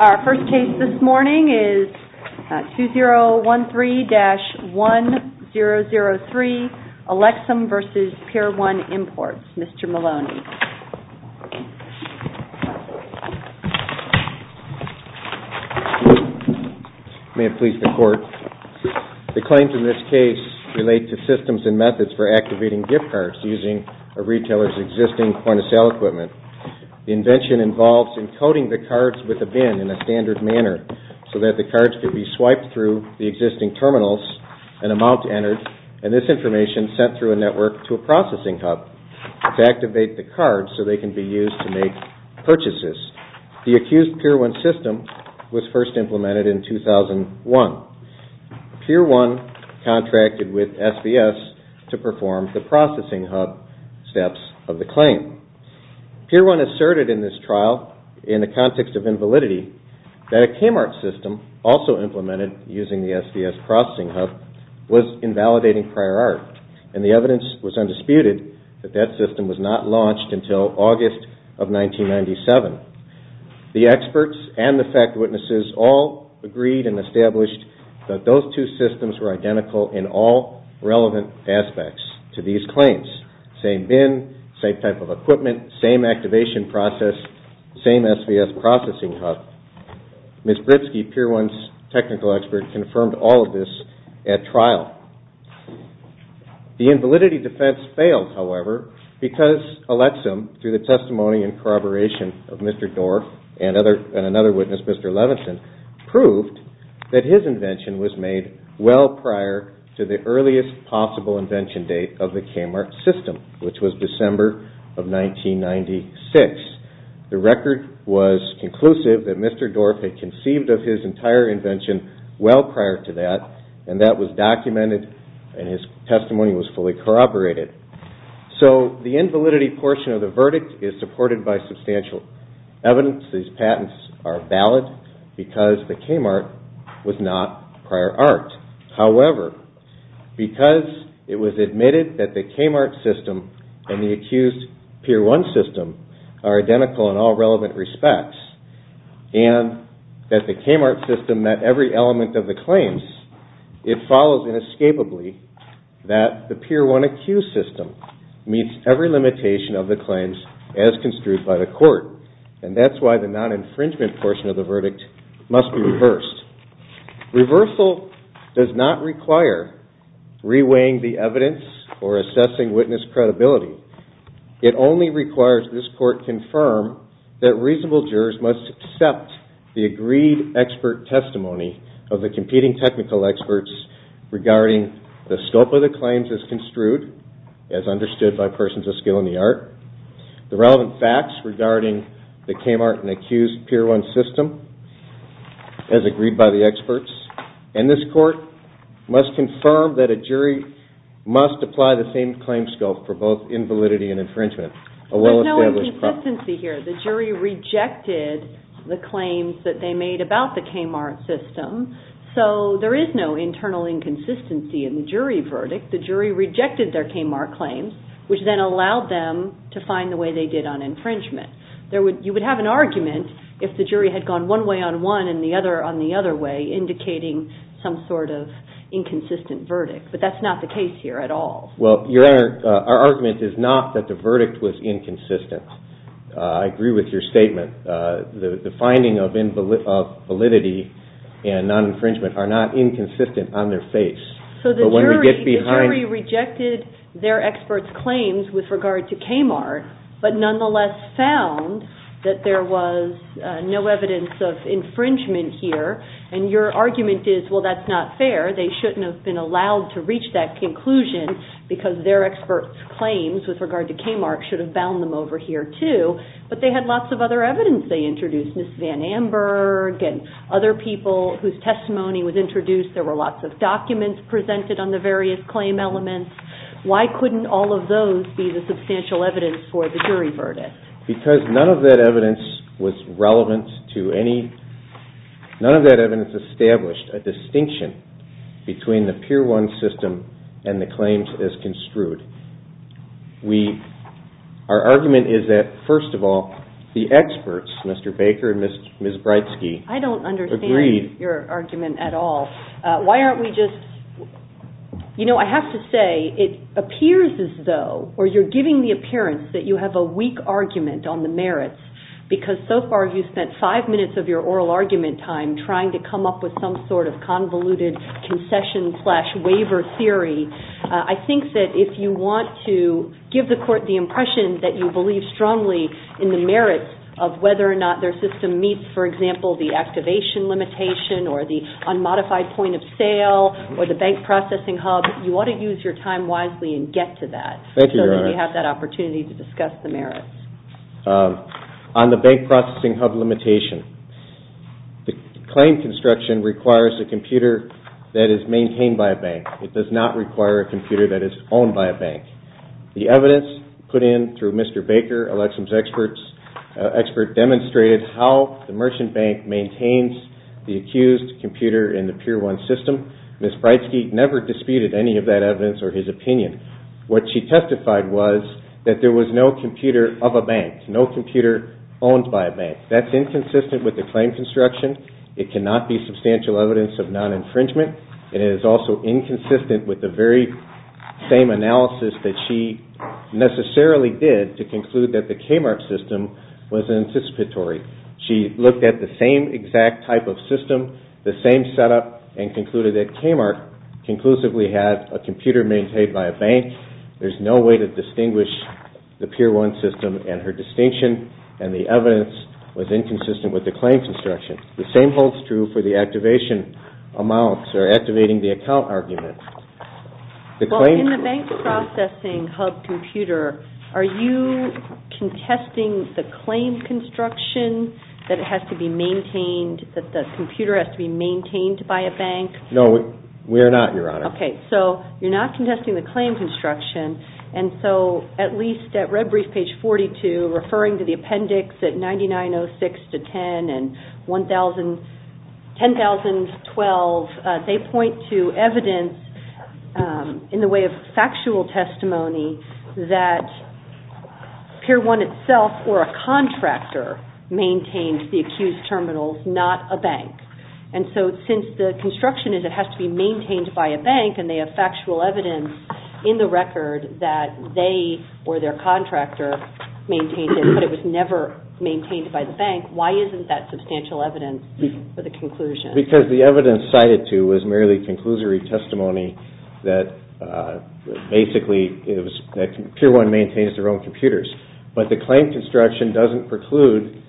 Our first case this morning is 2013-1003, ALEXSAM v. PIER 1 IMPORTS. Mr. Maloney. May it please the court. The claims in this case relate to systems and methods for activating gift cards using a retailer's existing point-of-sale equipment. The invention involves encoding the cards with a bin in a standard manner so that the cards could be swiped through the existing terminals and a mount entered and this information sent through a network to a processing hub to activate the cards so they can be used to make purchases. The accused PIER 1 system was first implemented in 2001. PIER 1 contracted with SVS to perform the processing hub steps of the claim. PIER 1 asserted in this trial in the context of invalidity that a Kmart system also implemented using the SVS processing hub was invalidating prior art and the evidence was undisputed that that system was not launched until August of 1997. The experts and the fact witnesses all agreed and established that those two systems were identical in all relevant aspects to these claims. Same bin, same type of equipment, same activation process, same SVS processing hub. Ms. Britsky, PIER 1's technical expert, confirmed all of this at trial. The invalidity defense failed, however, because ALEXSAM through the testimony and corroboration of Mr. Dorff and another witness, Mr. Levinson, proved that his invention was made well prior to the earliest possible invention date of the Kmart system, which was December of 1996. The record was conclusive that Mr. Dorff had conceived of his entire invention well prior to that and that was documented and his testimony was fully corroborated. So the invalidity portion of the verdict is supported by substantial evidence. These patents are valid because the Kmart was not prior art. However, because it was admitted that the Kmart system and the accused PIER 1 system are identical in all relevant respects and that the Kmart system met every element of the claims, it follows inescapably that the PIER 1 accused system meets every limitation of the claims as construed by the court and that's why the non-infringement portion of the verdict must be reversed. Reversal does not require re-weighing the evidence or assessing witness credibility. It only requires this court confirm that reasonable jurors must accept the agreed expert testimony of the competing technical experts regarding the scope of the claims as construed, as understood by persons of skill in the art, the relevant facts regarding the Kmart and accused PIER 1 system as agreed by the experts, and this court must confirm that a jury must apply the same claim scope for both invalidity and infringement. There's no inconsistency here. The jury rejected the claims that they made about the Kmart system, so there is no internal inconsistency in the jury verdict. The jury rejected their claims, which then allowed them to find the way they did on infringement. You would have an argument if the jury had gone one way on one and the other on the other way, indicating some sort of inconsistent verdict, but that's not the case here at all. Well, your argument is not that the verdict was inconsistent. I agree with your statement. The finding of validity and non-infringement are not inconsistent on their face. The jury rejected their experts' claims with regard to Kmart, but nonetheless found that there was no evidence of infringement here, and your argument is, well, that's not fair. They shouldn't have been allowed to reach that conclusion because their experts' claims with regard to Kmart should have bound them over here, too, but they had lots of other evidence they introduced, Ms. Van Amburg and other people whose testimony was introduced. There were lots of documents presented on the various claim elements. Why couldn't all of those be the substantial evidence for the jury verdict? Because none of that evidence was relevant to any... None of that evidence established a distinction between the Pier 1 system and the claims as construed. Our argument is that, first of all, the experts, Mr. Baker and Ms. Bridsky, agreed... Why aren't we just... I have to say, it appears as though, or you're giving the appearance that you have a weak argument on the merits, because so far you've spent five minutes of your oral argument time trying to come up with some sort of convoluted concession slash waiver theory. I think that if you want to give the court the impression that you believe strongly in the merits of whether or not their system meets, for example, the activation limitation or the unmodified point of sale or the bank processing hub, you want to use your time wisely and get to that so that you have that opportunity to discuss the merits. On the bank processing hub limitation, the claim construction requires a computer that is maintained by a bank. It does not require a computer that is owned by a bank. The evidence put in through Mr. Baker, Alexa's expert, demonstrated how the merchant bank maintains the accused computer in the Pier 1 system. Ms. Bridsky never disputed any of that evidence or his opinion. What she testified was that there was no computer of a bank, no computer owned by a bank. That's inconsistent with the claim construction. It cannot be substantial evidence of non-infringement, and it is also inconsistent with the very same analysis that she necessarily did to conclude that the KMARC system was anticipatory. She looked at the same exact type of system, the same setup, and concluded that KMARC conclusively had a computer maintained by a bank. There's no way to distinguish the Pier 1 system and her distinction and the evidence was inconsistent with the claim construction. The same holds true for the activation amounts or activating the account arguments. In the bank processing hub computer, are you contesting the claim construction that it has to be maintained, that the computer has to be maintained by a bank? No, we are not, Your Honor. Okay, so you're not contesting the claim construction, and so at least at Red Brief page 42, referring to the appendix at 9906-10 and 10,012, they point to evidence in the way of factual testimony that Pier 1 itself or a contractor maintained the accused terminals, not a bank. And so since the construction is it has to be maintained by a bank and they have factual evidence in the record that they or their contractor maintained it, but it was never maintained by the bank, why isn't that substantial evidence for the conclusion? Because the evidence cited to was merely conclusory testimony that basically Pier 1 maintains their own computers. But the claim construction doesn't preclude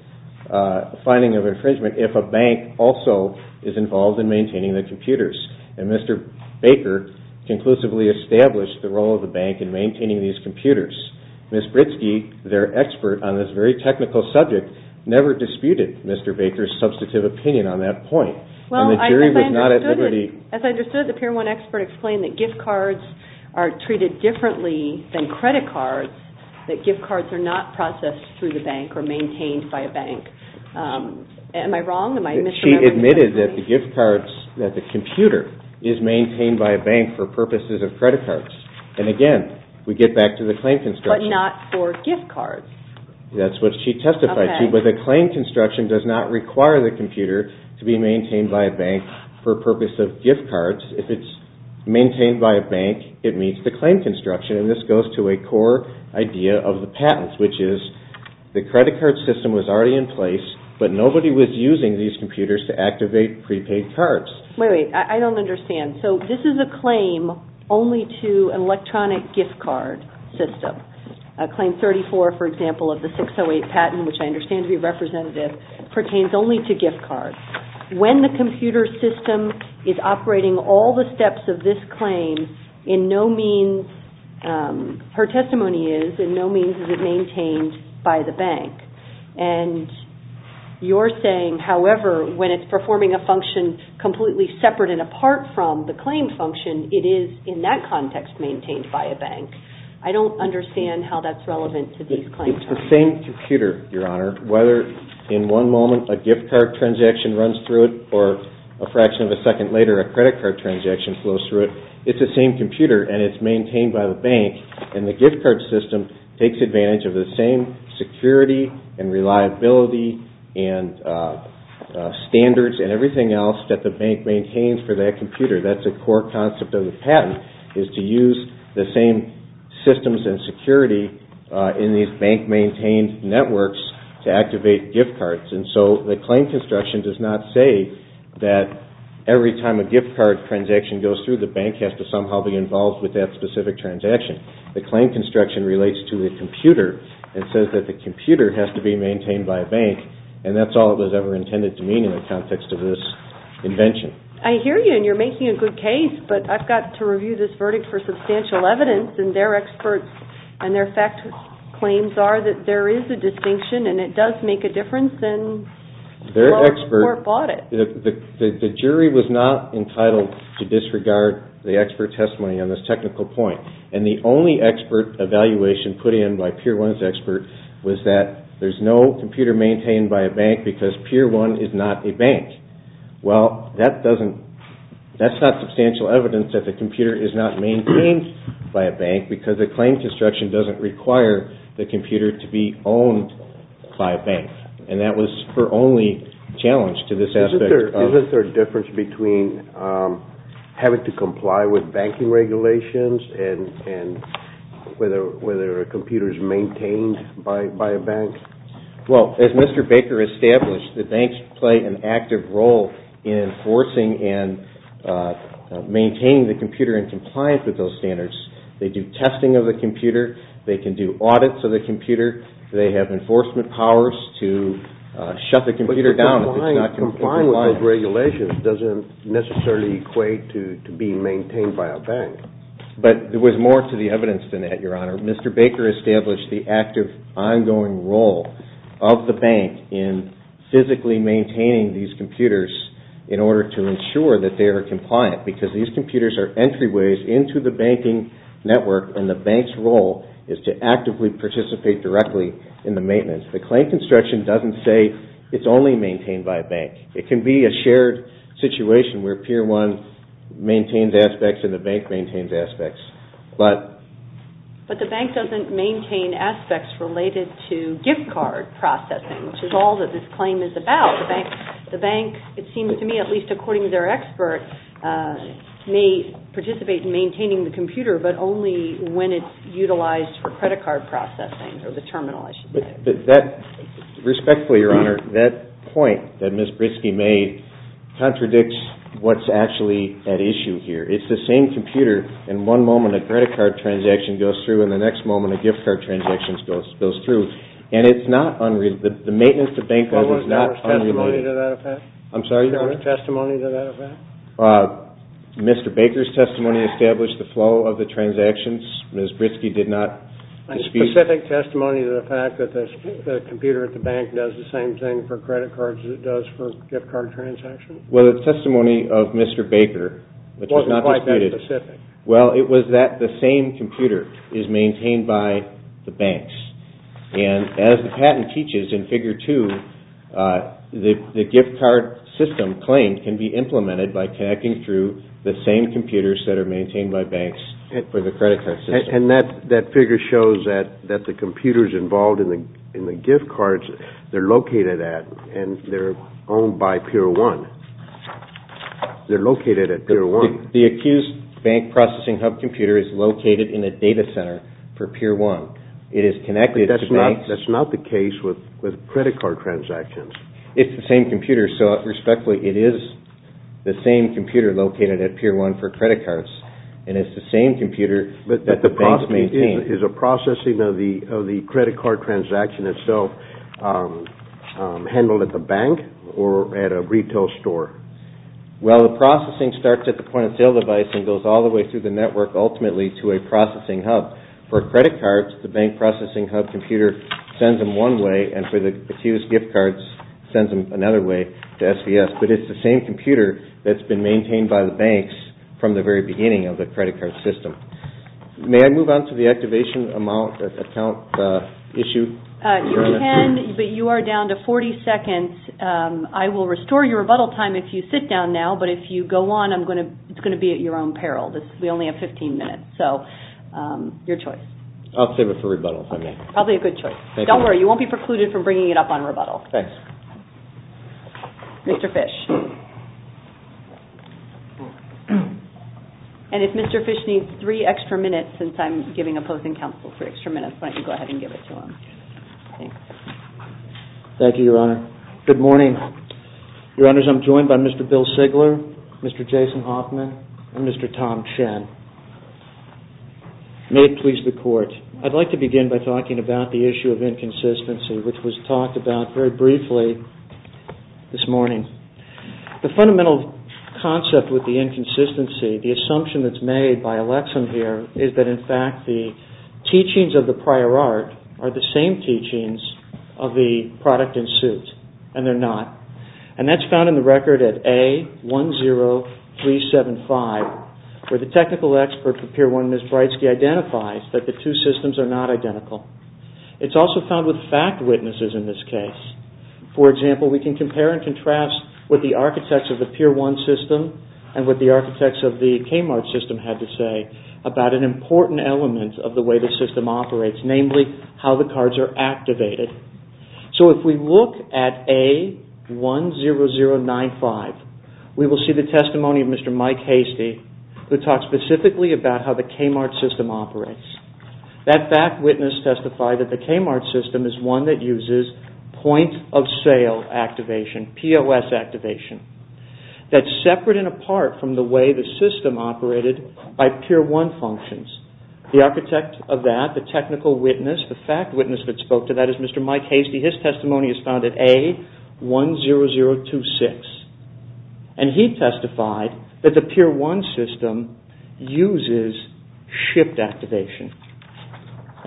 finding of infringement if a bank also is involved in maintaining the computers. And Mr. Baker conclusively established the role of the bank in maintaining these computers. Ms. Britsky, their expert on this very technical subject, never disputed Mr. Baker's substantive opinion on that point. As I understood it, the Pier 1 expert explained that gift cards are treated differently than credit cards, that gift cards are not processed through the bank or maintained by a bank. Am I wrong? She admitted that the gift cards, that the computer is maintained by a bank for purposes of credit cards. And again, we get back to the claim construction. But not for gift cards. That's what she testified to, but the claim construction does not require the computer to be maintained by a bank for purposes of gift cards. If it's maintained by a bank, it meets the claim construction and this goes to a core idea of the patents, which is the But nobody was using these computers to activate prepaid cards. Wait, wait, I don't understand. So this is a claim only to an electronic gift card system. Claim 34, for example, of the 608 patent, which I understand to be representative, pertains only to gift cards. When the computer system is operating all the steps of this claim, in no means, her testimony is, in no means is it maintained by the bank. And you're saying, however, when it's performing a function completely separate and apart from the claim function, it is in that context maintained by a bank. I don't understand how that's relevant to these claims. It's the same computer, Your Honor. Whether in one moment a gift card transaction runs through it or a fraction of a second later a credit card transaction flows through it, it's the same computer and it's maintained by the bank. And the gift card system takes advantage of the same security and reliability and standards and everything else that the bank maintains for that computer. That's a core concept of the patent, is to use the same systems and security in these bank-maintained networks to activate gift cards. And so the claim construction does not say that every time a gift card transaction goes through the bank has to somehow be involved with that specific transaction. The claim construction relates to the computer and says that the computer has to be maintained by a bank and that's all it was ever intended to mean in the context of this invention. I hear you and you're making a good case, but I've got to review this verdict for substantial evidence and their experts and their fact claims are that there is a distinction and it does make a difference and the court bought it. The jury was not entitled to disregard the expert testimony on this technical point and the only expert evaluation put in by Pier 1's expert was that there's no computer maintained by a bank because Pier 1 is not a bank. Well, that's not substantial evidence that the computer is not maintained by a bank because the claim construction doesn't require the computer to be owned by a bank and that was the expert only challenge to this aspect. Isn't there a difference between having to comply with banking regulations and whether a computer is maintained by a bank? Well, as Mr. Baker established, the banks play an active role in enforcing and maintaining the computer in compliance with those standards. They do testing of the computer. They can do audits of the computer. They have enforcement powers to shut the computer down if it's not compliant. But to comply with those regulations doesn't necessarily equate to being maintained by a bank. But there was more to the evidence than that, Your Honor. Mr. Baker established the active ongoing role of the bank in physically maintaining these computers in order to ensure that they are compliant because these computers are entry The claim construction doesn't say it's only maintained by a bank. It can be a shared situation where Pier 1 maintains aspects and the bank maintains aspects. But the bank doesn't maintain aspects related to gift card processing, which is all that this claim is about. The bank, it seems to me, at least according to their expert, may participate in maintaining the computer, but only when it's utilized for credit card processing or the terminal issue. Respectfully, Your Honor, that point that Ms. Britsky made contradicts what's actually at issue here. It's the same computer. In one moment, a credit card transaction goes through. In the next moment, a gift card transaction goes through. And it's not unreasonable. The maintenance of bank accounts is not unreasonable. Do you have a testimony to that effect? I'm sorry, Your Honor? Do you have a testimony to that effect? Mr. Baker's testimony established the flow of the transactions. Ms. Britsky did not dispute. A specific testimony to the fact that the computer at the bank does the same thing for credit cards as it does for gift card transactions? Well, the testimony of Mr. Baker, which was not disputed. It wasn't quite that specific. Well, it was that the same computer is maintained by the banks. And as the patent teaches in Figure 2, the gift card system claim can be implemented by connecting through the same computers that are maintained by banks for the credit card system. And that figure shows that the computers involved in the gift cards, they're located at and they're owned by Pier 1. They're located at Pier 1. The accused bank processing hub computer is located in a data center for Pier 1. It is connected to banks. But that's not the case with credit card transactions. It's the same computer. So, respectfully, it is the same computer located at Pier 1 for credit cards. And it's the same computer that the banks maintain. But is a processing of the credit card transaction itself handled at the bank or at a retail store? Well, the processing starts at the point-of-sale device and goes all the way through the network ultimately to a processing hub. For credit cards, the bank processing hub computer sends them one way and for the accused gift cards, sends them another way to SVS. But it's the same computer that's been maintained by the banks from the very beginning of the credit card system. May I move on to the activation amount account issue? You can, but you are down to 40 seconds. I will restore your rebuttal time if you sit down now. But if you go on, it's going to be at your own peril. We only have 15 minutes. So, your choice. I'll save it for rebuttal, if I may. Probably a good choice. Thank you. Don't worry. You won't be precluded from bringing it up on rebuttal. Thanks. Mr. Fish. And if Mr. Fish needs three extra minutes, since I'm giving opposing counsel three extra minutes, why don't you go ahead and give it to him. Thanks. Thank you, Your Honor. Good morning. Your Honors, I'm joined by Mr. Bill Sigler, Mr. Jason Hoffman, and Mr. Tom Chen. May it please the Court. I'd like to begin by talking about the issue of inconsistency, which was talked about very briefly this morning. The fundamental concept with the inconsistency, the assumption that's made by Alexa here, is that, in fact, the teachings of the prior art are the same teachings of the product in suit, and they're not. And that's found in the record at A10375, where the technical expert for Pier 1, Ms. Breitsky, identifies that the two systems are not identical. It's also found with fact witnesses in this case. For example, we can compare and contrast what the architects of the Pier 1 system and what the architects of the Kmart system had to say about an important element of the way the system operates, namely how the cards are activated. So if we look at A10095, we will see the testimony of Mr. Mike Hastie, who talks specifically about how the Kmart system operates. That fact witness testified that the Kmart system is one that uses point-of-sale activation, POS activation. That's separate and apart from the way the system operated by Pier 1 functions. The architect of that, the technical witness, the fact witness that spoke to that is Mr. Mike Hastie. His testimony is found at A10026. And he testified that the Pier 1 system uses shift activation.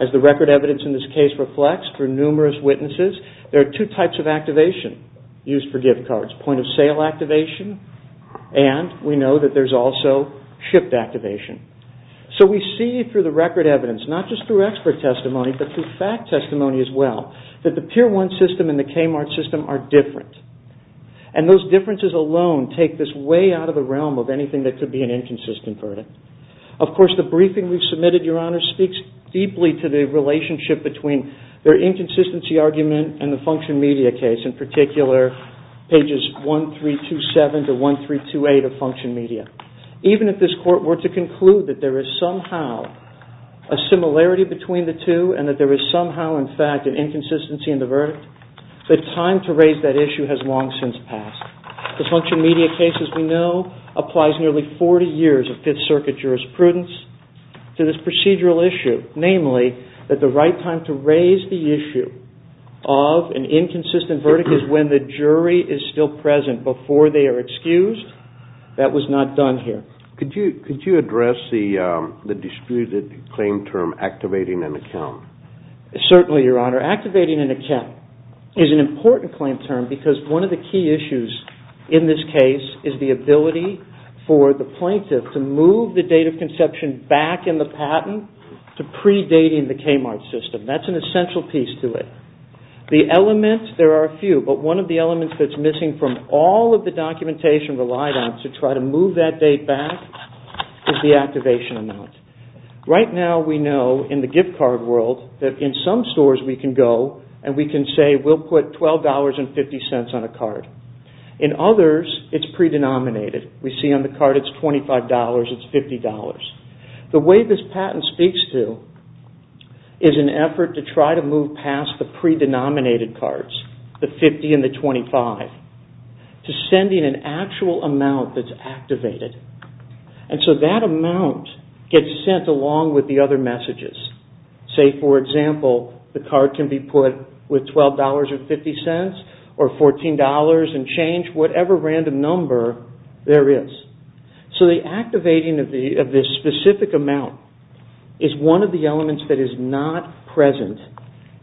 As the record evidence in this case reflects for numerous witnesses, there are two types of activation used for gift cards, point-of-sale activation, and we know that there's also shift activation. So we see through the record evidence, not just through expert testimony, but through fact testimony as well, that the Pier 1 system and the Kmart system are different. And those differences alone take this way out of the realm of anything that could be an inconsistent verdict. Of course, the briefing we submitted, Your Honor, speaks deeply to the relationship between their inconsistency argument and the Function Media case, in particular pages 1327 to 1328 of Function Media. Even if this Court were to conclude that there is somehow a similarity between the two and that there is somehow, in fact, an inconsistency in the verdict, the time to raise that issue has long since passed. The Function Media case, as we know, applies nearly 40 years of Fifth Circuit jurisprudence to this procedural issue. Namely, that the right time to raise the issue of an inconsistent verdict is when the jury is still present before they are excused. That was not done here. Could you address the disputed claim term, activating an account? Certainly, Your Honor. Activating an account is an important claim term because one of the key issues in this case is the ability for the plaintiff to move the date of conception back in the patent to predating the Kmart system. That's an essential piece to it. The elements, there are a few, but one of the elements that's missing from all of the is the activation amount. Right now, we know in the gift card world that in some stores we can go and we can say we'll put $12.50 on a card. In others, it's pre-denominated. We see on the card it's $25, it's $50. The way this patent speaks to is an effort to try to move past the pre-denominated cards, the 50 and the 25, to sending an actual amount that's activated. That amount gets sent along with the other messages. Say, for example, the card can be put with $12.50 or $14 and change, whatever random number there is. The activating of this specific amount is one of the elements that is not present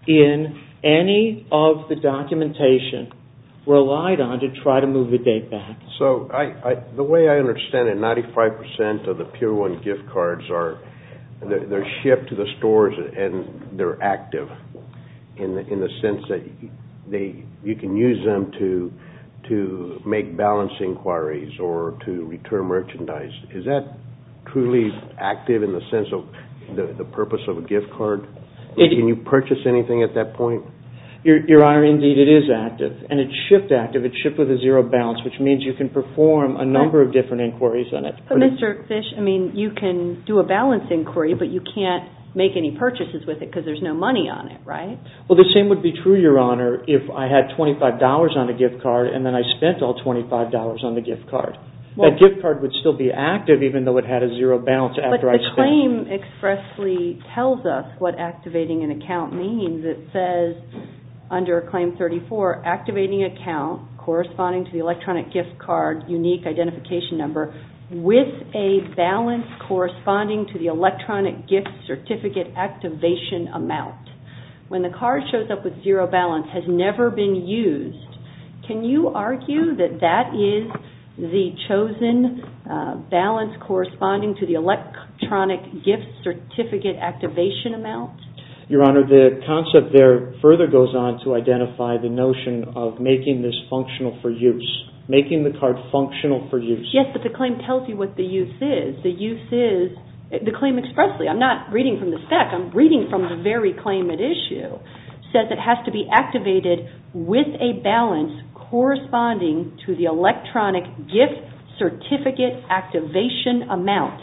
in any of the documentation relied on to try to move the date back. The way I understand it, 95% of the Pure One gift cards, they're shipped to the stores and they're active in the sense that you can use them to make balance inquiries or to return merchandise. Is that truly active in the sense of the purpose of a gift card? Can you purchase anything at that point? Your Honor, indeed, it is active. It's shipped active. It's shipped with a zero balance, which means you can perform a number of different inquiries on it. Mr. Fish, you can do a balance inquiry, but you can't make any purchases with it because there's no money on it, right? The same would be true, Your Honor, if I had $25 on a gift card and then I spent all $25 on the gift card. That gift card would still be active even though it had a zero balance after I spent tells us what activating an account means. It says under Claim 34, activating account corresponding to the electronic gift card unique identification number with a balance corresponding to the electronic gift certificate activation amount. When the card shows up with zero balance, has never been used, can you argue that that is the chosen balance corresponding to the electronic gift certificate activation amount? Your Honor, the concept there further goes on to identify the notion of making this functional for use, making the card functional for use. Yes, but the claim tells you what the use is. The claim expressly, I'm not reading from the spec, I'm reading from the very claim says it has to be activated with a balance corresponding to the electronic gift certificate activation amount.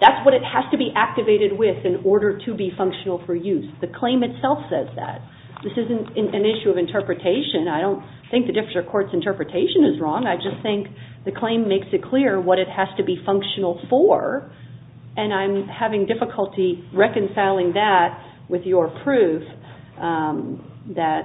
That's what it has to be activated with in order to be functional for use. The claim itself says that. This isn't an issue of interpretation. I don't think the District Court's interpretation is wrong. I just think the claim makes it clear what it has to be functional for and I'm having difficulty reconciling that with your proof that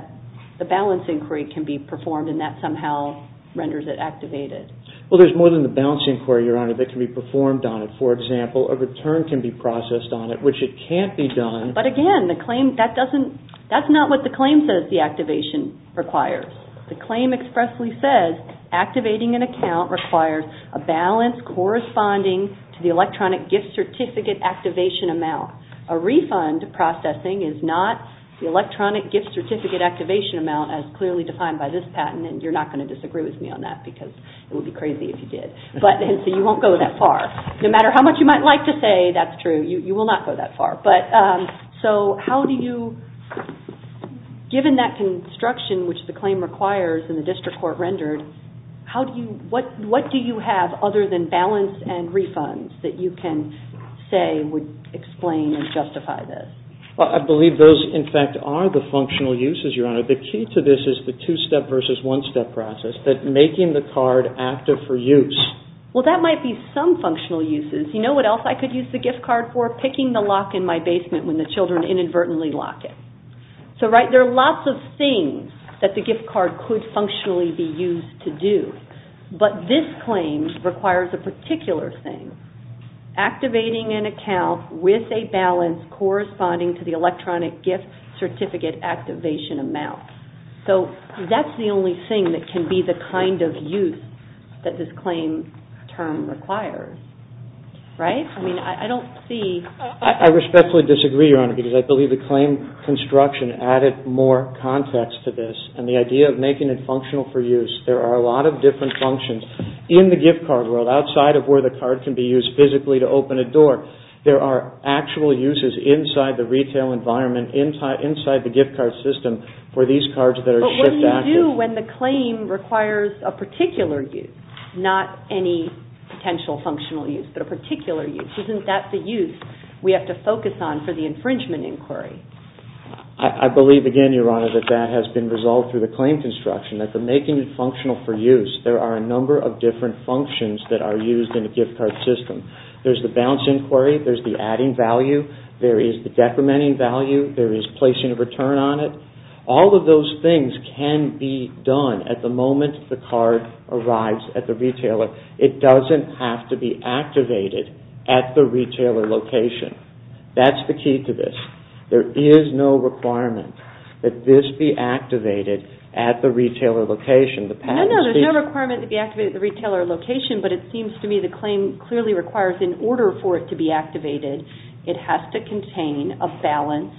the balance inquiry can be performed and that somehow renders it activated. Well, there's more than the balance inquiry, Your Honor, that can be performed on it. For example, a return can be processed on it, which it can't be done. But again, that's not what the claim says the activation requires. The claim expressly says activating an account requires a balance corresponding to the electronic gift certificate activation amount. A refund processing is not the electronic gift certificate activation amount as clearly defined by this patent and you're not going to disagree with me on that because it would be crazy if you did. So you won't go that far. No matter how much you might like to say that's true, you will not go that far. So how do you, given that construction which the claim requires and the District Court rendered, what do you have other than balance and refunds that you can say would explain and justify this? Well, I believe those, in fact, are the functional uses, Your Honor. The key to this is the two-step versus one-step process, that making the card active for use. Well, that might be some functional uses. You know what else I could use the gift card for? Picking the lock in my basement when the children inadvertently lock it. So, right, there are lots of things that the gift card could functionally be used to do, but this claim requires a particular thing, activating an account with a balance corresponding to the electronic gift certificate activation amount. So that's the only thing that can be the kind of use that this claim term requires. Right? I mean, I don't see... I respectfully disagree, Your Honor, because I believe the claim construction added more context to this, and the idea of making it functional for use. There are a lot of different functions in the gift card world, outside of where the card can be used physically to open a door. There are actual uses inside the retail environment, inside the gift card system, for these cards that are shift active. But what do you do when the claim requires a particular use? Not any potential functional use, but a particular use. Isn't that the use? We have to focus on for the infringement inquiry. I believe, again, Your Honor, that that has been resolved through the claim construction, that the making it functional for use. There are a number of different functions that are used in a gift card system. There's the balance inquiry, there's the adding value, there is the decrementing value, there is placing a return on it. All of those things can be done at the moment the card arrives at the retailer. It doesn't have to be activated at the retailer location. That's the key to this. There is no requirement that this be activated at the retailer location. No, no. There's no requirement to be activated at the retailer location, but it seems to me the claim clearly requires, in order for it to be activated, it has to contain a balance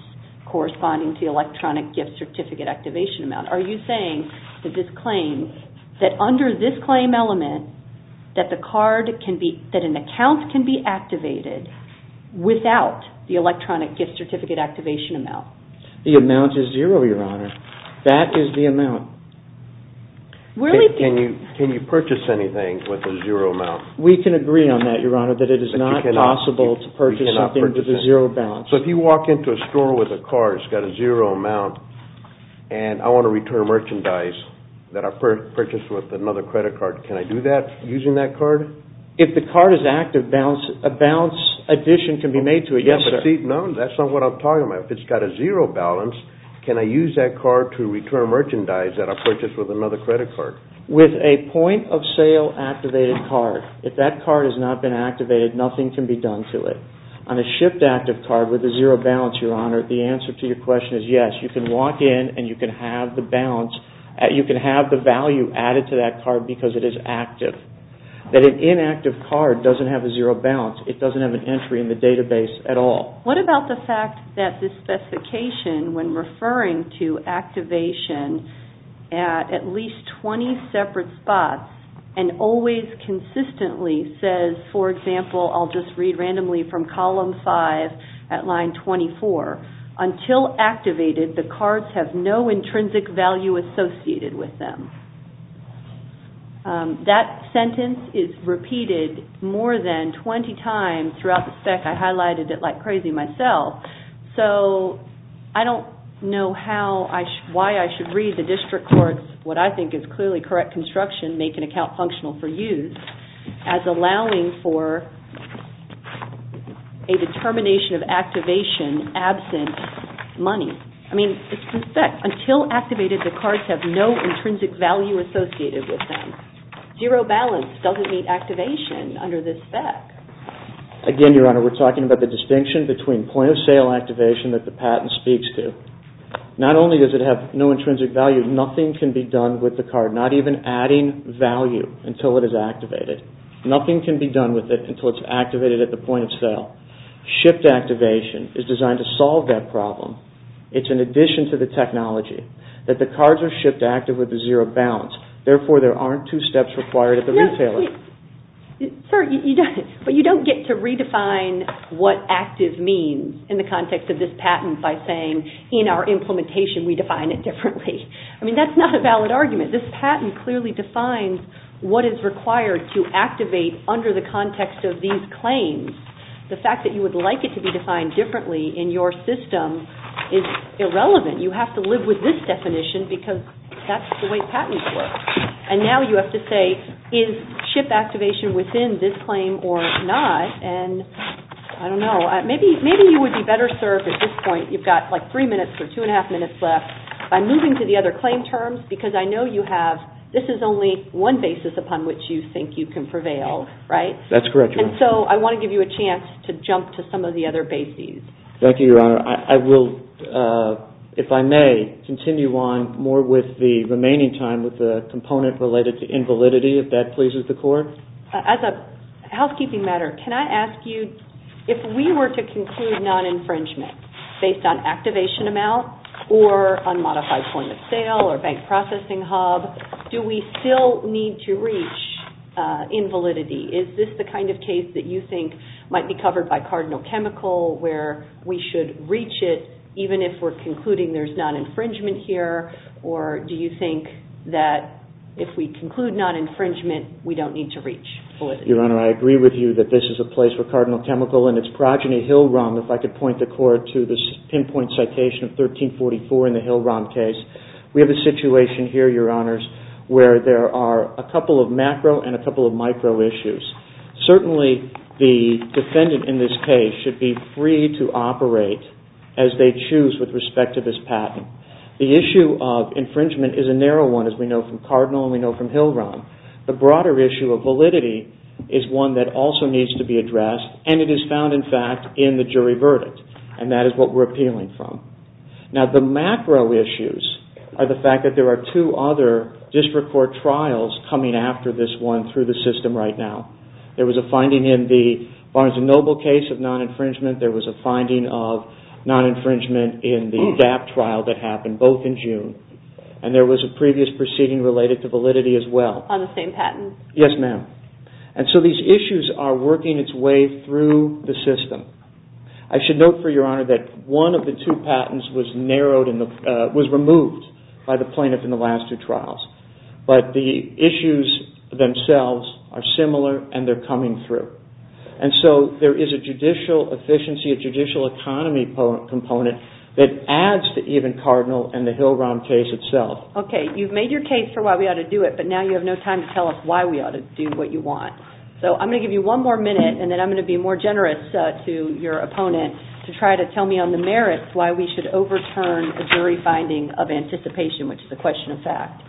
corresponding to the electronic gift certificate activation amount. Are you saying that this claim, that under this claim element, that an account can be activated without the electronic gift certificate activation amount? The amount is zero, Your Honor. That is the amount. Can you purchase anything with a zero amount? We can agree on that, Your Honor, that it is not possible to purchase something with a zero balance. If you walk into a store with a card, it's got a zero amount, and I want to return merchandise that I purchased with another credit card, can I do that using that card? If the card is active, a balance addition can be made to it. No, that's not what I'm talking about. If it's got a zero balance, can I use that card to return merchandise that I purchased with another credit card? With a point-of-sale activated card, if that card has not been activated, nothing can be done to it. On a shipped active card with a zero balance, Your Honor, the answer to your question is yes, you can walk in and you can have the balance, you can have the value added to that card because it is active. But an inactive card doesn't have a zero balance. It doesn't have an entry in the database at all. What about the fact that this specification, when referring to activation, at least 20 separate spots, and always consistently says, for example, I'll just read randomly from column 5 at line 24. Until activated, the cards have no intrinsic value associated with them. That sentence is repeated more than 20 times throughout the spec. I highlighted it like crazy myself. I don't know why I should read the district court's, what I think is clearly correct construction, make an account functional for use as allowing for a determination of activation absent money. Until activated, the cards have no intrinsic value associated with them. Zero balance doesn't mean activation under this spec. Again, Your Honor, we're talking about the distinction between point of sale activation that the patent speaks to. Not only does it have no intrinsic value, nothing can be done with the card. Not even adding value until it is activated. Nothing can be done with it until it's activated at the point of sale. Shift activation is designed to solve that problem. It's an addition to the technology that the cards are shift active with the zero balance. Therefore, there aren't two steps required at the retailer. But you don't get to redefine what active means in the context of this patent by saying, in our implementation we define it differently. That's not a valid argument. This patent clearly defines what is required to activate under the context of these claims. The fact that you would like it to be defined differently in your system is irrelevant. You have to live with this definition because that's the way patents work. And now you have to say, is shift activation within this claim or not? And I don't know. Maybe you would be better served at this point. You've got like three minutes or two and a half minutes left. I'm moving to the other claim terms because I know you have, this is only one basis upon which you think you can prevail, right? That's correct, Your Honor. And so I want to give you a chance to jump to some of the other bases. Thank you, Your Honor. I will, if I may, continue on more with the remaining time with the component related to invalidity, if that pleases the Court. As a housekeeping matter, can I ask you, if we were to conclude non-infringement based on activation amount or unmodified point of sale or bank processing hub, do we still need to reach invalidity? Is this the kind of case that you think might be covered by Cardinal Chemical where we should reach it even if we're concluding there's non-infringement here? Or do you think that if we conclude non-infringement, we don't need to reach validity? Your Honor, I agree with you that this is a place where Cardinal Chemical and its progeny, Hill-Rom, if I could point the Court to this pinpoint citation of 1344 in the Hill-Rom case. We have a situation here, Your Honors, where there are a couple of macro and a couple of micro issues. Certainly, the defendant in this case should be free to operate as they choose with respect to this patent. The issue of infringement is a narrow one as we know from Cardinal and we know from Hill-Rom. The broader issue of validity is one that also needs to be addressed and it is found in fact in the jury verdict and that is what we're appealing from. Now, the macro issues are the fact that there are two other district court trials coming after this one through the system right now. There was a finding in the Barnes & Noble case of non-infringement. There was a finding of non-infringement in the DAP trial that happened both in June and there was a previous proceeding related to validity as well. On the same patent? Yes, ma'am. And so these issues are working its way through the system. I should note for Your Honor that one of the two patents was removed by the plaintiff in the last two trials. But the issues themselves are similar and they're coming through. And so there is a judicial efficiency, a judicial economy component that adds to even Cardinal and the Hill-Rom case itself. Okay, you've made your case for why we ought to do it, but now you have no time to tell us why we ought to do what you want. So I'm going to give you one more minute and then I'm going to be more generous to your opponent to try to tell me on the merits why we should overturn a jury finding of anticipation, which is a question of fact.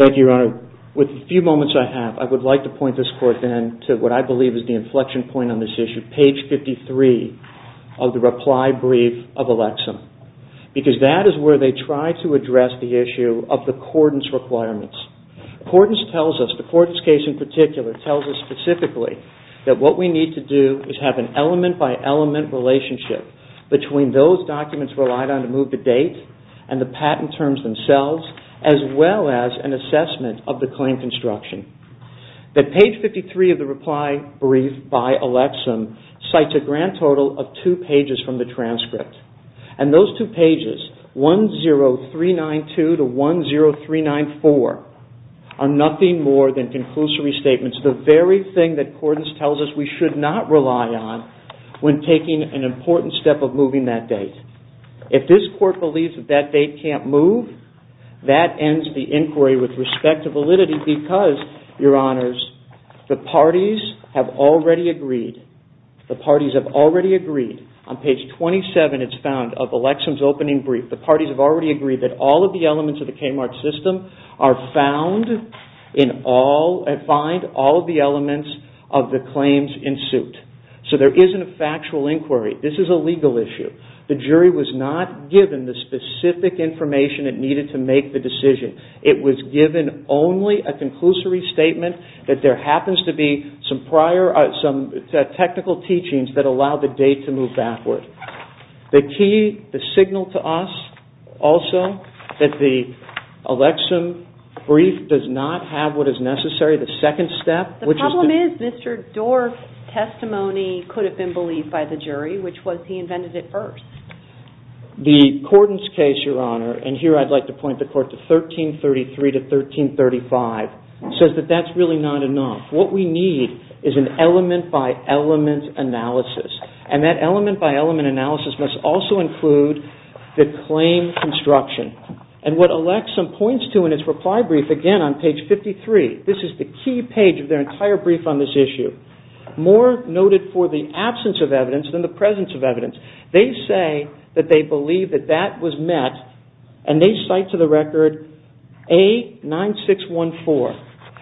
Thank you, Your Honor. With the few moments I have, I would like to point this Court then to what I believe is the inflection point on this issue, page 53 of the reply brief of Alexem. Because that is where they try to address the issue of the Cordon's requirements. Cordon's tells us, the Cordon's case in particular, tells us specifically that what we need to do is have an element-by-element relationship between those documents relied on to move the date and the patent terms themselves, as well as an assessment of the claim construction. That page 53 of the reply brief by Alexem cites a grand total of two pages from the transcript. And those two pages, 10392 to 10394, are nothing more than conclusory statements. The very thing that Cordon's tells us we should not rely on when taking an important step of moving that date. If this Court believes that that date can't move, that ends the inquiry with respect to validity because, Your Honors, the parties have already agreed. The parties have already agreed. On page 27, it's found, of Alexem's opening brief, the parties have already agreed that all of the elements of the Kmart system are found in all, and find all of the elements of the claims in suit. So there isn't a factual inquiry. This is a legal issue. The jury was not given the specific information it needed to make the decision. It was given only a conclusory statement that there happens to be some prior, some technical teachings that allow the date to move backward. The key, the signal to us, also, that the Alexem brief does not have what is necessary, the second step, which is the... The problem is Mr. Dorff's testimony could have been believed by the jury, which was he invented it first. The Cordon's case, Your Honor, and here I'd like to point the Court to 1333 to 1335, says that that's really not enough. What we need is an element-by-element analysis. And that element-by-element analysis must also include the claim construction. And what Alexem points to in its reply brief, again, on page 53, this is the key page of their entire brief on this issue, more noted for the absence of evidence than the presence of evidence. They say that they believe that that was met, and they cite to the record A9614.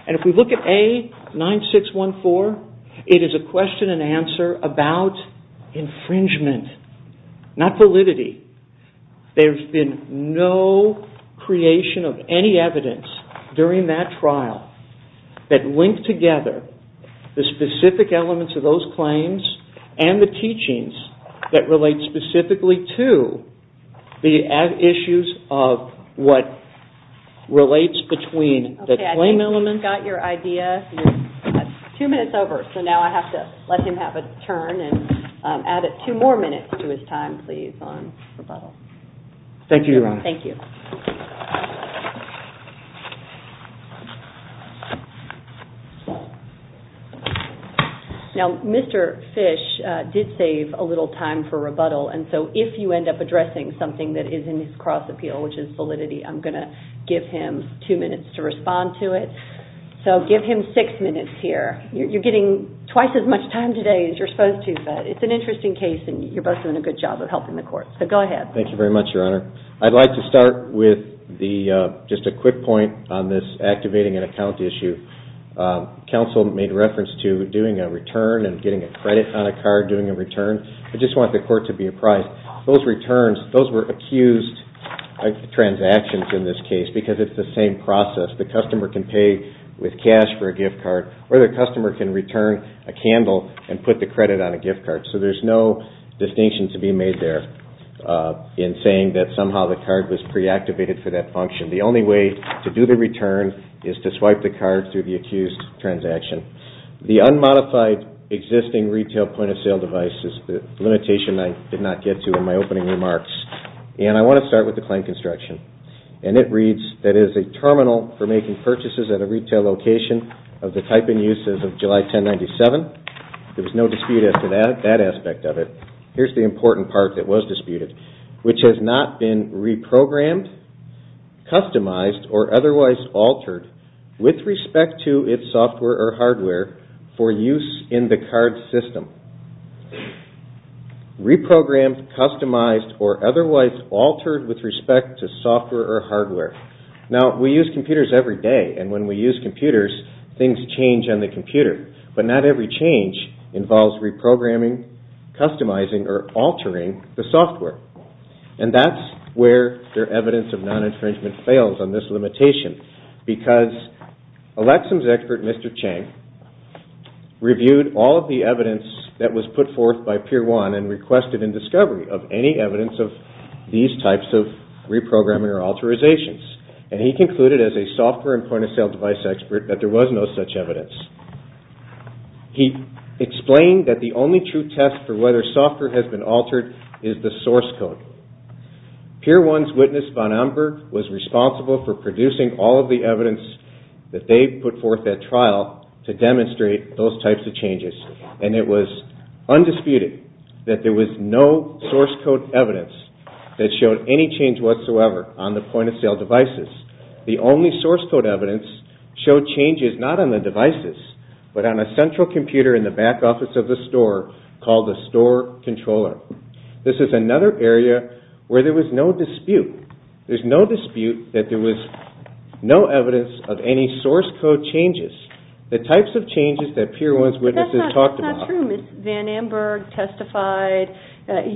And if we look at A9614, it is a question and answer about infringement, not validity. There's been no creation of any evidence during that trial that linked together the specific elements of those claims and the teachings that relate specifically to the issues of what relates between the claim elements... Okay, I think we've got your idea. Two minutes over, so now I have to let him have a turn and add two more minutes to his time, please, on rebuttal. Thank you, Your Honor. Thank you. Now, Mr. Fish did save a little time for rebuttal, and so if you end up addressing something that is in his cross appeal, which is validity, I'm going to give him two minutes to respond to it. So give him six minutes here. You're getting twice as much time today as you're supposed to, but it's an interesting case, and you're both doing a good job of helping the Court. So go ahead. Thank you very much, Your Honor. I'd like to start with just a quick point on this activating an account issue. Counsel made reference to doing a return and getting a credit on a card, doing a return. I just want the Court to be apprised. Those returns, those were accused transactions in this case because it's the same process. The customer can pay with cash for a gift card, or the customer can return a candle and put the credit on a gift card. So there's no distinction to be made there in saying that somehow the card was preactivated for that function. The only way to do the return is to swipe the card through the accused transaction. The unmodified existing retail point-of-sale device is the limitation I did not get to in my opening remarks. And I want to start with the claim construction. And it reads that it is a terminal for making purchases at a retail location of the type and uses of July 1097. There was no dispute as to that aspect of it. Here's the important part that was disputed, which has not been reprogrammed, customized, or otherwise altered with respect to its software or hardware for use in the card system. Reprogrammed, customized, or otherwise altered with respect to software or hardware. Now, we use computers every day. And when we use computers, things change on the computer. But not every change involves reprogramming, customizing, or altering the software. And that's where their evidence of non-infringement fails on this limitation because Alexa's expert, Mr. Chang, reviewed all of the evidence that was put forth by Pier 1 and requested in discovery of any evidence of these types of reprogramming or alterizations. And he concluded as a software and point-of-sale device expert that there was no such evidence. He explained that the only true test for whether software has been altered is the source code. Pier 1's witness, Von Amburg, was responsible for producing all of the evidence that they put forth at trial to demonstrate those types of changes. And it was undisputed that there was no source code evidence that showed any change whatsoever on the point-of-sale devices. The only source code evidence showed changes not on the devices, but on a central computer in the back office of the store called the store controller. This is another area where there was no dispute. There's no dispute that there was no evidence of any source code changes, the types of changes that Pier 1's witnesses talked about. That's not true, Ms. Von Amburg testified.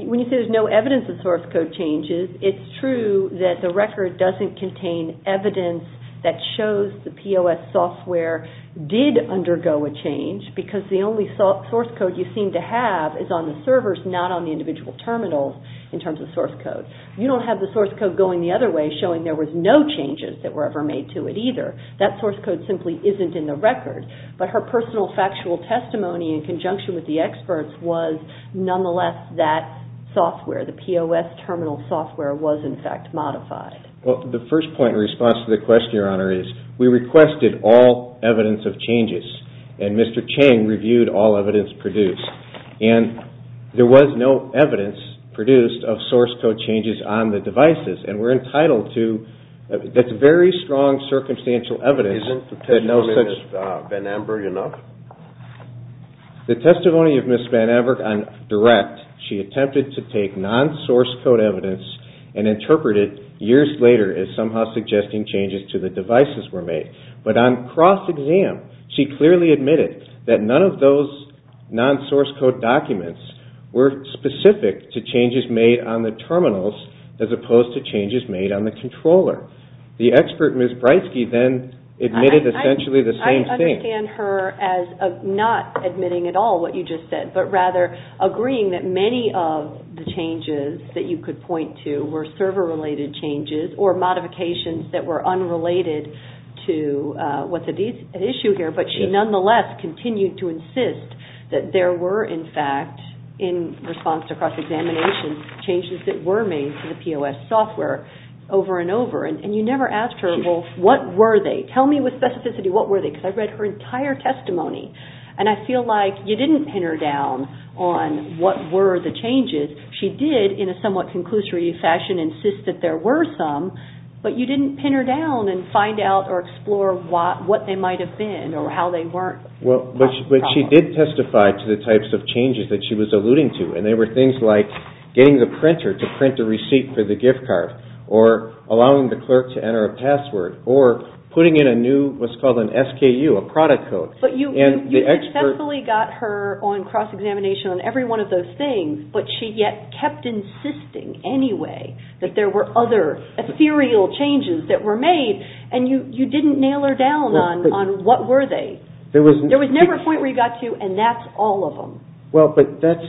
When you say there's no evidence of source code changes, it's true that the record doesn't contain evidence that shows the POS software did undergo a change because the only source code you seem to have is on the servers, not on the individual terminals in terms of source code. You don't have the source code going the other way showing there was no changes that were ever made to it either. That source code simply isn't in the record. But her personal factual testimony in conjunction with the experts was nonetheless that software, the POS terminal software, was in fact modified. The first point in response to the question, Your Honor, is we requested all evidence of changes. And Mr. Chang reviewed all evidence produced. And there was no evidence produced of source code changes on the devices. And we're entitled to that's very strong circumstantial evidence. Isn't the testimony of Ms. Von Amburg enough? The testimony of Ms. Von Amburg on direct, she attempted to take non-source code evidence and interpret it years later as somehow suggesting changes to the devices were made. But on cross-exam, she clearly admitted that none of those non-source code documents were specific to changes made on the terminals as opposed to changes made on the controller. The expert, Ms. Breitsky, then admitted essentially the same thing. I understand her as not admitting at all what you just said, but rather agreeing that many of the changes that you could point to were server-related changes or modifications that were unrelated to what's at issue here. But she nonetheless continued to insist that there were in fact, in response to cross-examination, changes that were made to the POS software over and over. And you never asked her, well, what were they? Tell me with specificity what were they? Because I read her entire testimony. And I feel like you didn't pin her down on what were the changes. She did, in a somewhat conclusory fashion, insist that there were some. But you didn't pin her down and find out or explore what they might have been or how they weren't. But she did testify to the types of changes that she was alluding to. And they were things like getting the printer to print the receipt for the gift card or allowing the clerk to enter a password or putting in a new, what's called an SKU, a product code. But you successfully got her on cross-examination on every one of those things. But she yet kept insisting anyway that there were other ethereal changes that were made. And you didn't nail her down on what were they. There was never a point where you got to, and that's all of them. Well, but that's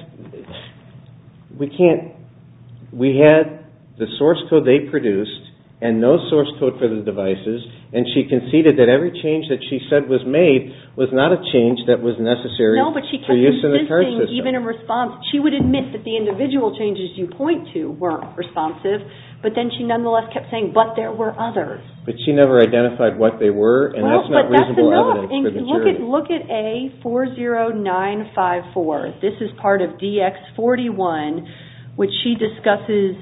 – we can't – we had the source code they produced and no source code for the devices. And she conceded that every change that she said was made was not a change that was necessary for use in the card system. No, but she kept insisting, even in response. She would admit that the individual changes you point to weren't responsive. But then she nonetheless kept saying, but there were others. But she never identified what they were. And that's not reasonable evidence for the jury. Look at A40954. This is part of DX41, which she discusses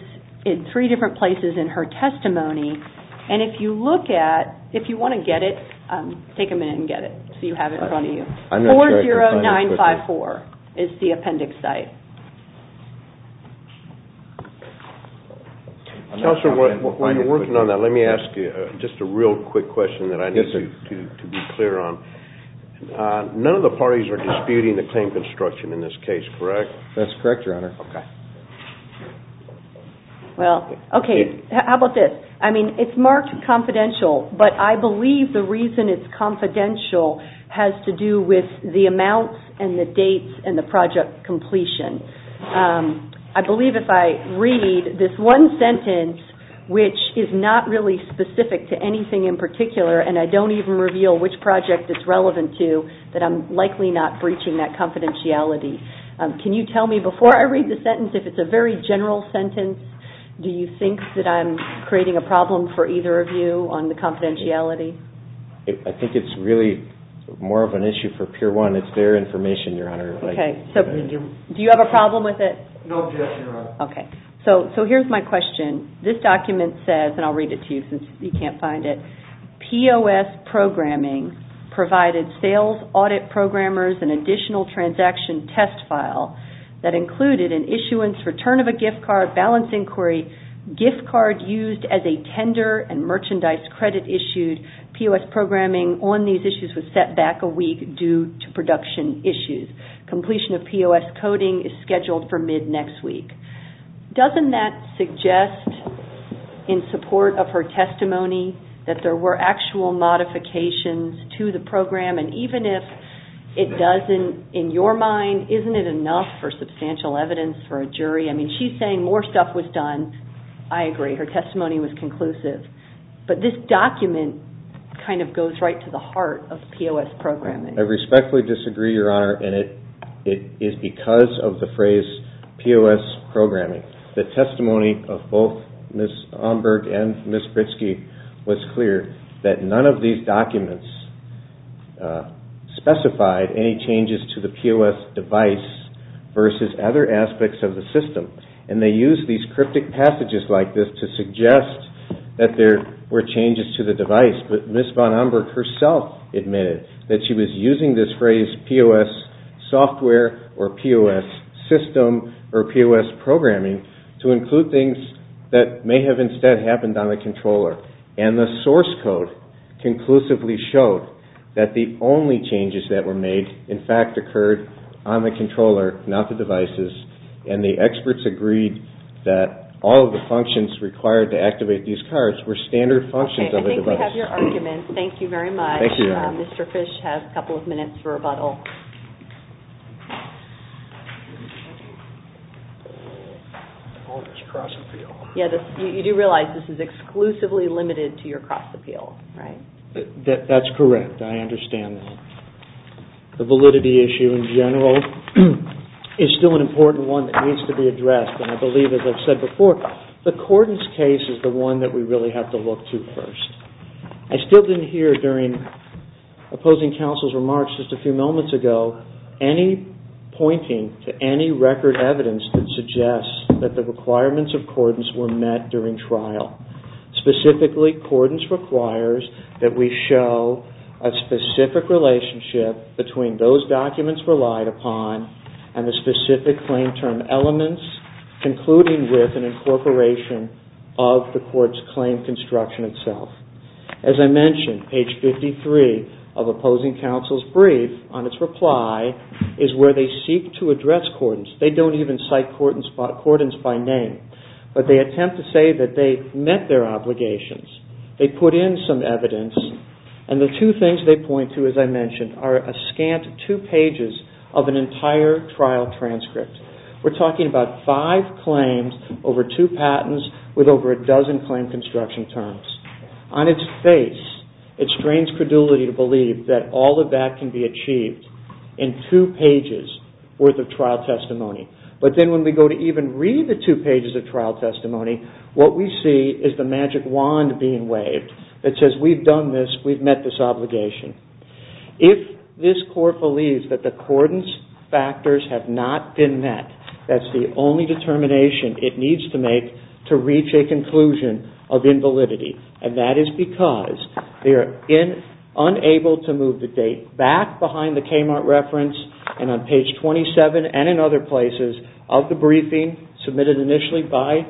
in three different places in her testimony. And if you look at – if you want to get it, take a minute and get it so you have it in front of you. 40954 is the appendix site. Counselor, while you're working on that, let me ask you just a real quick question that I need to be clear on. None of the parties are disputing the claim construction in this case, correct? That's correct, Your Honor. Well, okay, how about this? I mean, it's marked confidential, but I believe the reason it's confidential has to do with the amounts and the dates and the project completion. I believe if I read this one sentence, which is not really specific to anything in particular, and I don't even reveal which project it's relevant to, that I'm likely not breaching that confidentiality. Can you tell me, before I read the sentence, if it's a very general sentence? Do you think that I'm creating a problem for either of you on the confidentiality? I think it's really more of an issue for Pier 1. It's their information, Your Honor. Okay, so do you have a problem with it? No, yes, Your Honor. Okay, so here's my question. This document says, and I'll read it to you since you can't find it, POS programming provided sales audit programmers an additional transaction test file that included an issuance, return of a gift card, balance inquiry, gift card used as a tender, and merchandise credit issued. POS programming on these issues was set back a week due to production issues. Completion of POS coding is scheduled for mid-next week. Doesn't that suggest, in support of her testimony, that there were actual modifications to the program? And even if it doesn't, in your mind, isn't it enough for substantial evidence for a jury? I mean, she's saying more stuff was done. I agree. Her testimony was conclusive. But this document kind of goes right to the heart of POS programming. I respectfully disagree, Your Honor, and it is because of the phrase POS programming. The testimony of both Ms. Omberg and Ms. Pritzke was clear that none of these documents specified any changes to the POS device versus other aspects of the system. And they used these cryptic passages like this to suggest that there were changes to the device. But Ms. von Omberg herself admitted that she was using this phrase, POS software or POS system or POS programming, to include things that may have instead happened on the controller. And the source code conclusively showed that the only changes that were made, in fact, occurred on the controller, not the devices, and the experts agreed that all of the functions required to activate these cards were standard functions of the device. Okay, I think we have your argument. Thank you, Your Honor. Mr. Fish has a couple of minutes for rebuttal. You do realize this is exclusively limited to your cross-appeal, right? That's correct. I understand that. The validity issue in general is still an important one that needs to be addressed. And I believe, as I've said before, the Cordon's case is the one that we really have to look to first. I still didn't hear, during opposing counsel's remarks just a few moments ago, any pointing to any record evidence that suggests that the requirements of Cordon's were met during trial. Specifically, Cordon's requires that we show a specific relationship between those documents relied upon and the specific claim term elements, concluding with an incorporation of the court's claim construction itself. As I mentioned, page 53 of opposing counsel's brief, on its reply, is where they seek to address Cordon's. They don't even cite Cordon's by name, but they attempt to say that they met their obligations. They put in some evidence, and the two things they point to, as I mentioned, are a scant two pages of an entire trial transcript. We're talking about five claims over two patents with over a dozen claim construction terms. On its face, it strains credulity to believe that all of that can be achieved in two pages worth of trial testimony. But then when we go to even read the two pages of trial testimony, what we see is the magic wand being waved that says, we've done this, we've met this obligation. If this court believes that the Cordon's factors have not been met, that's the only determination it needs to make to reach a conclusion of invalidity. And that is because they are unable to move the date back behind the Kmart reference, and on page 27 and in other places of the briefing submitted initially by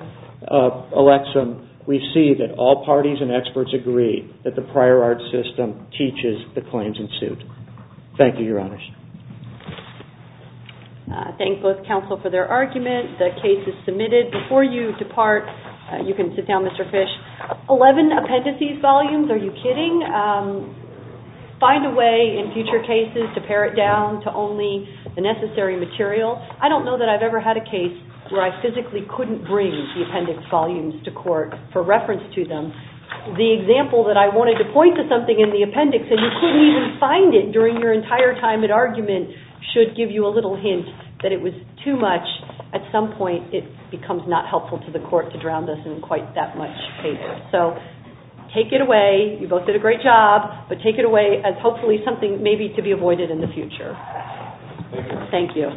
Alexa, we see that all parties and experts agree that the prior art system teaches the claims in suit. Thank you, Your Honors. Thank both counsel for their argument. The case is submitted. Before you depart, you can sit down, Mr. Fish. Eleven appendices volumes, are you kidding? Find a way in future cases to pare it down to only the necessary material. I don't know that I've ever had a case where I physically couldn't bring the appendix volumes to court for reference to them. The example that I wanted to point to something in the appendix, and you couldn't even find it during your entire time at argument, should give you a little hint that it was too much. At some point it becomes not helpful to the court to drown this in quite that much paper. So take it away, you both did a great job, but take it away as hopefully something maybe to be avoided in the future. Thank you.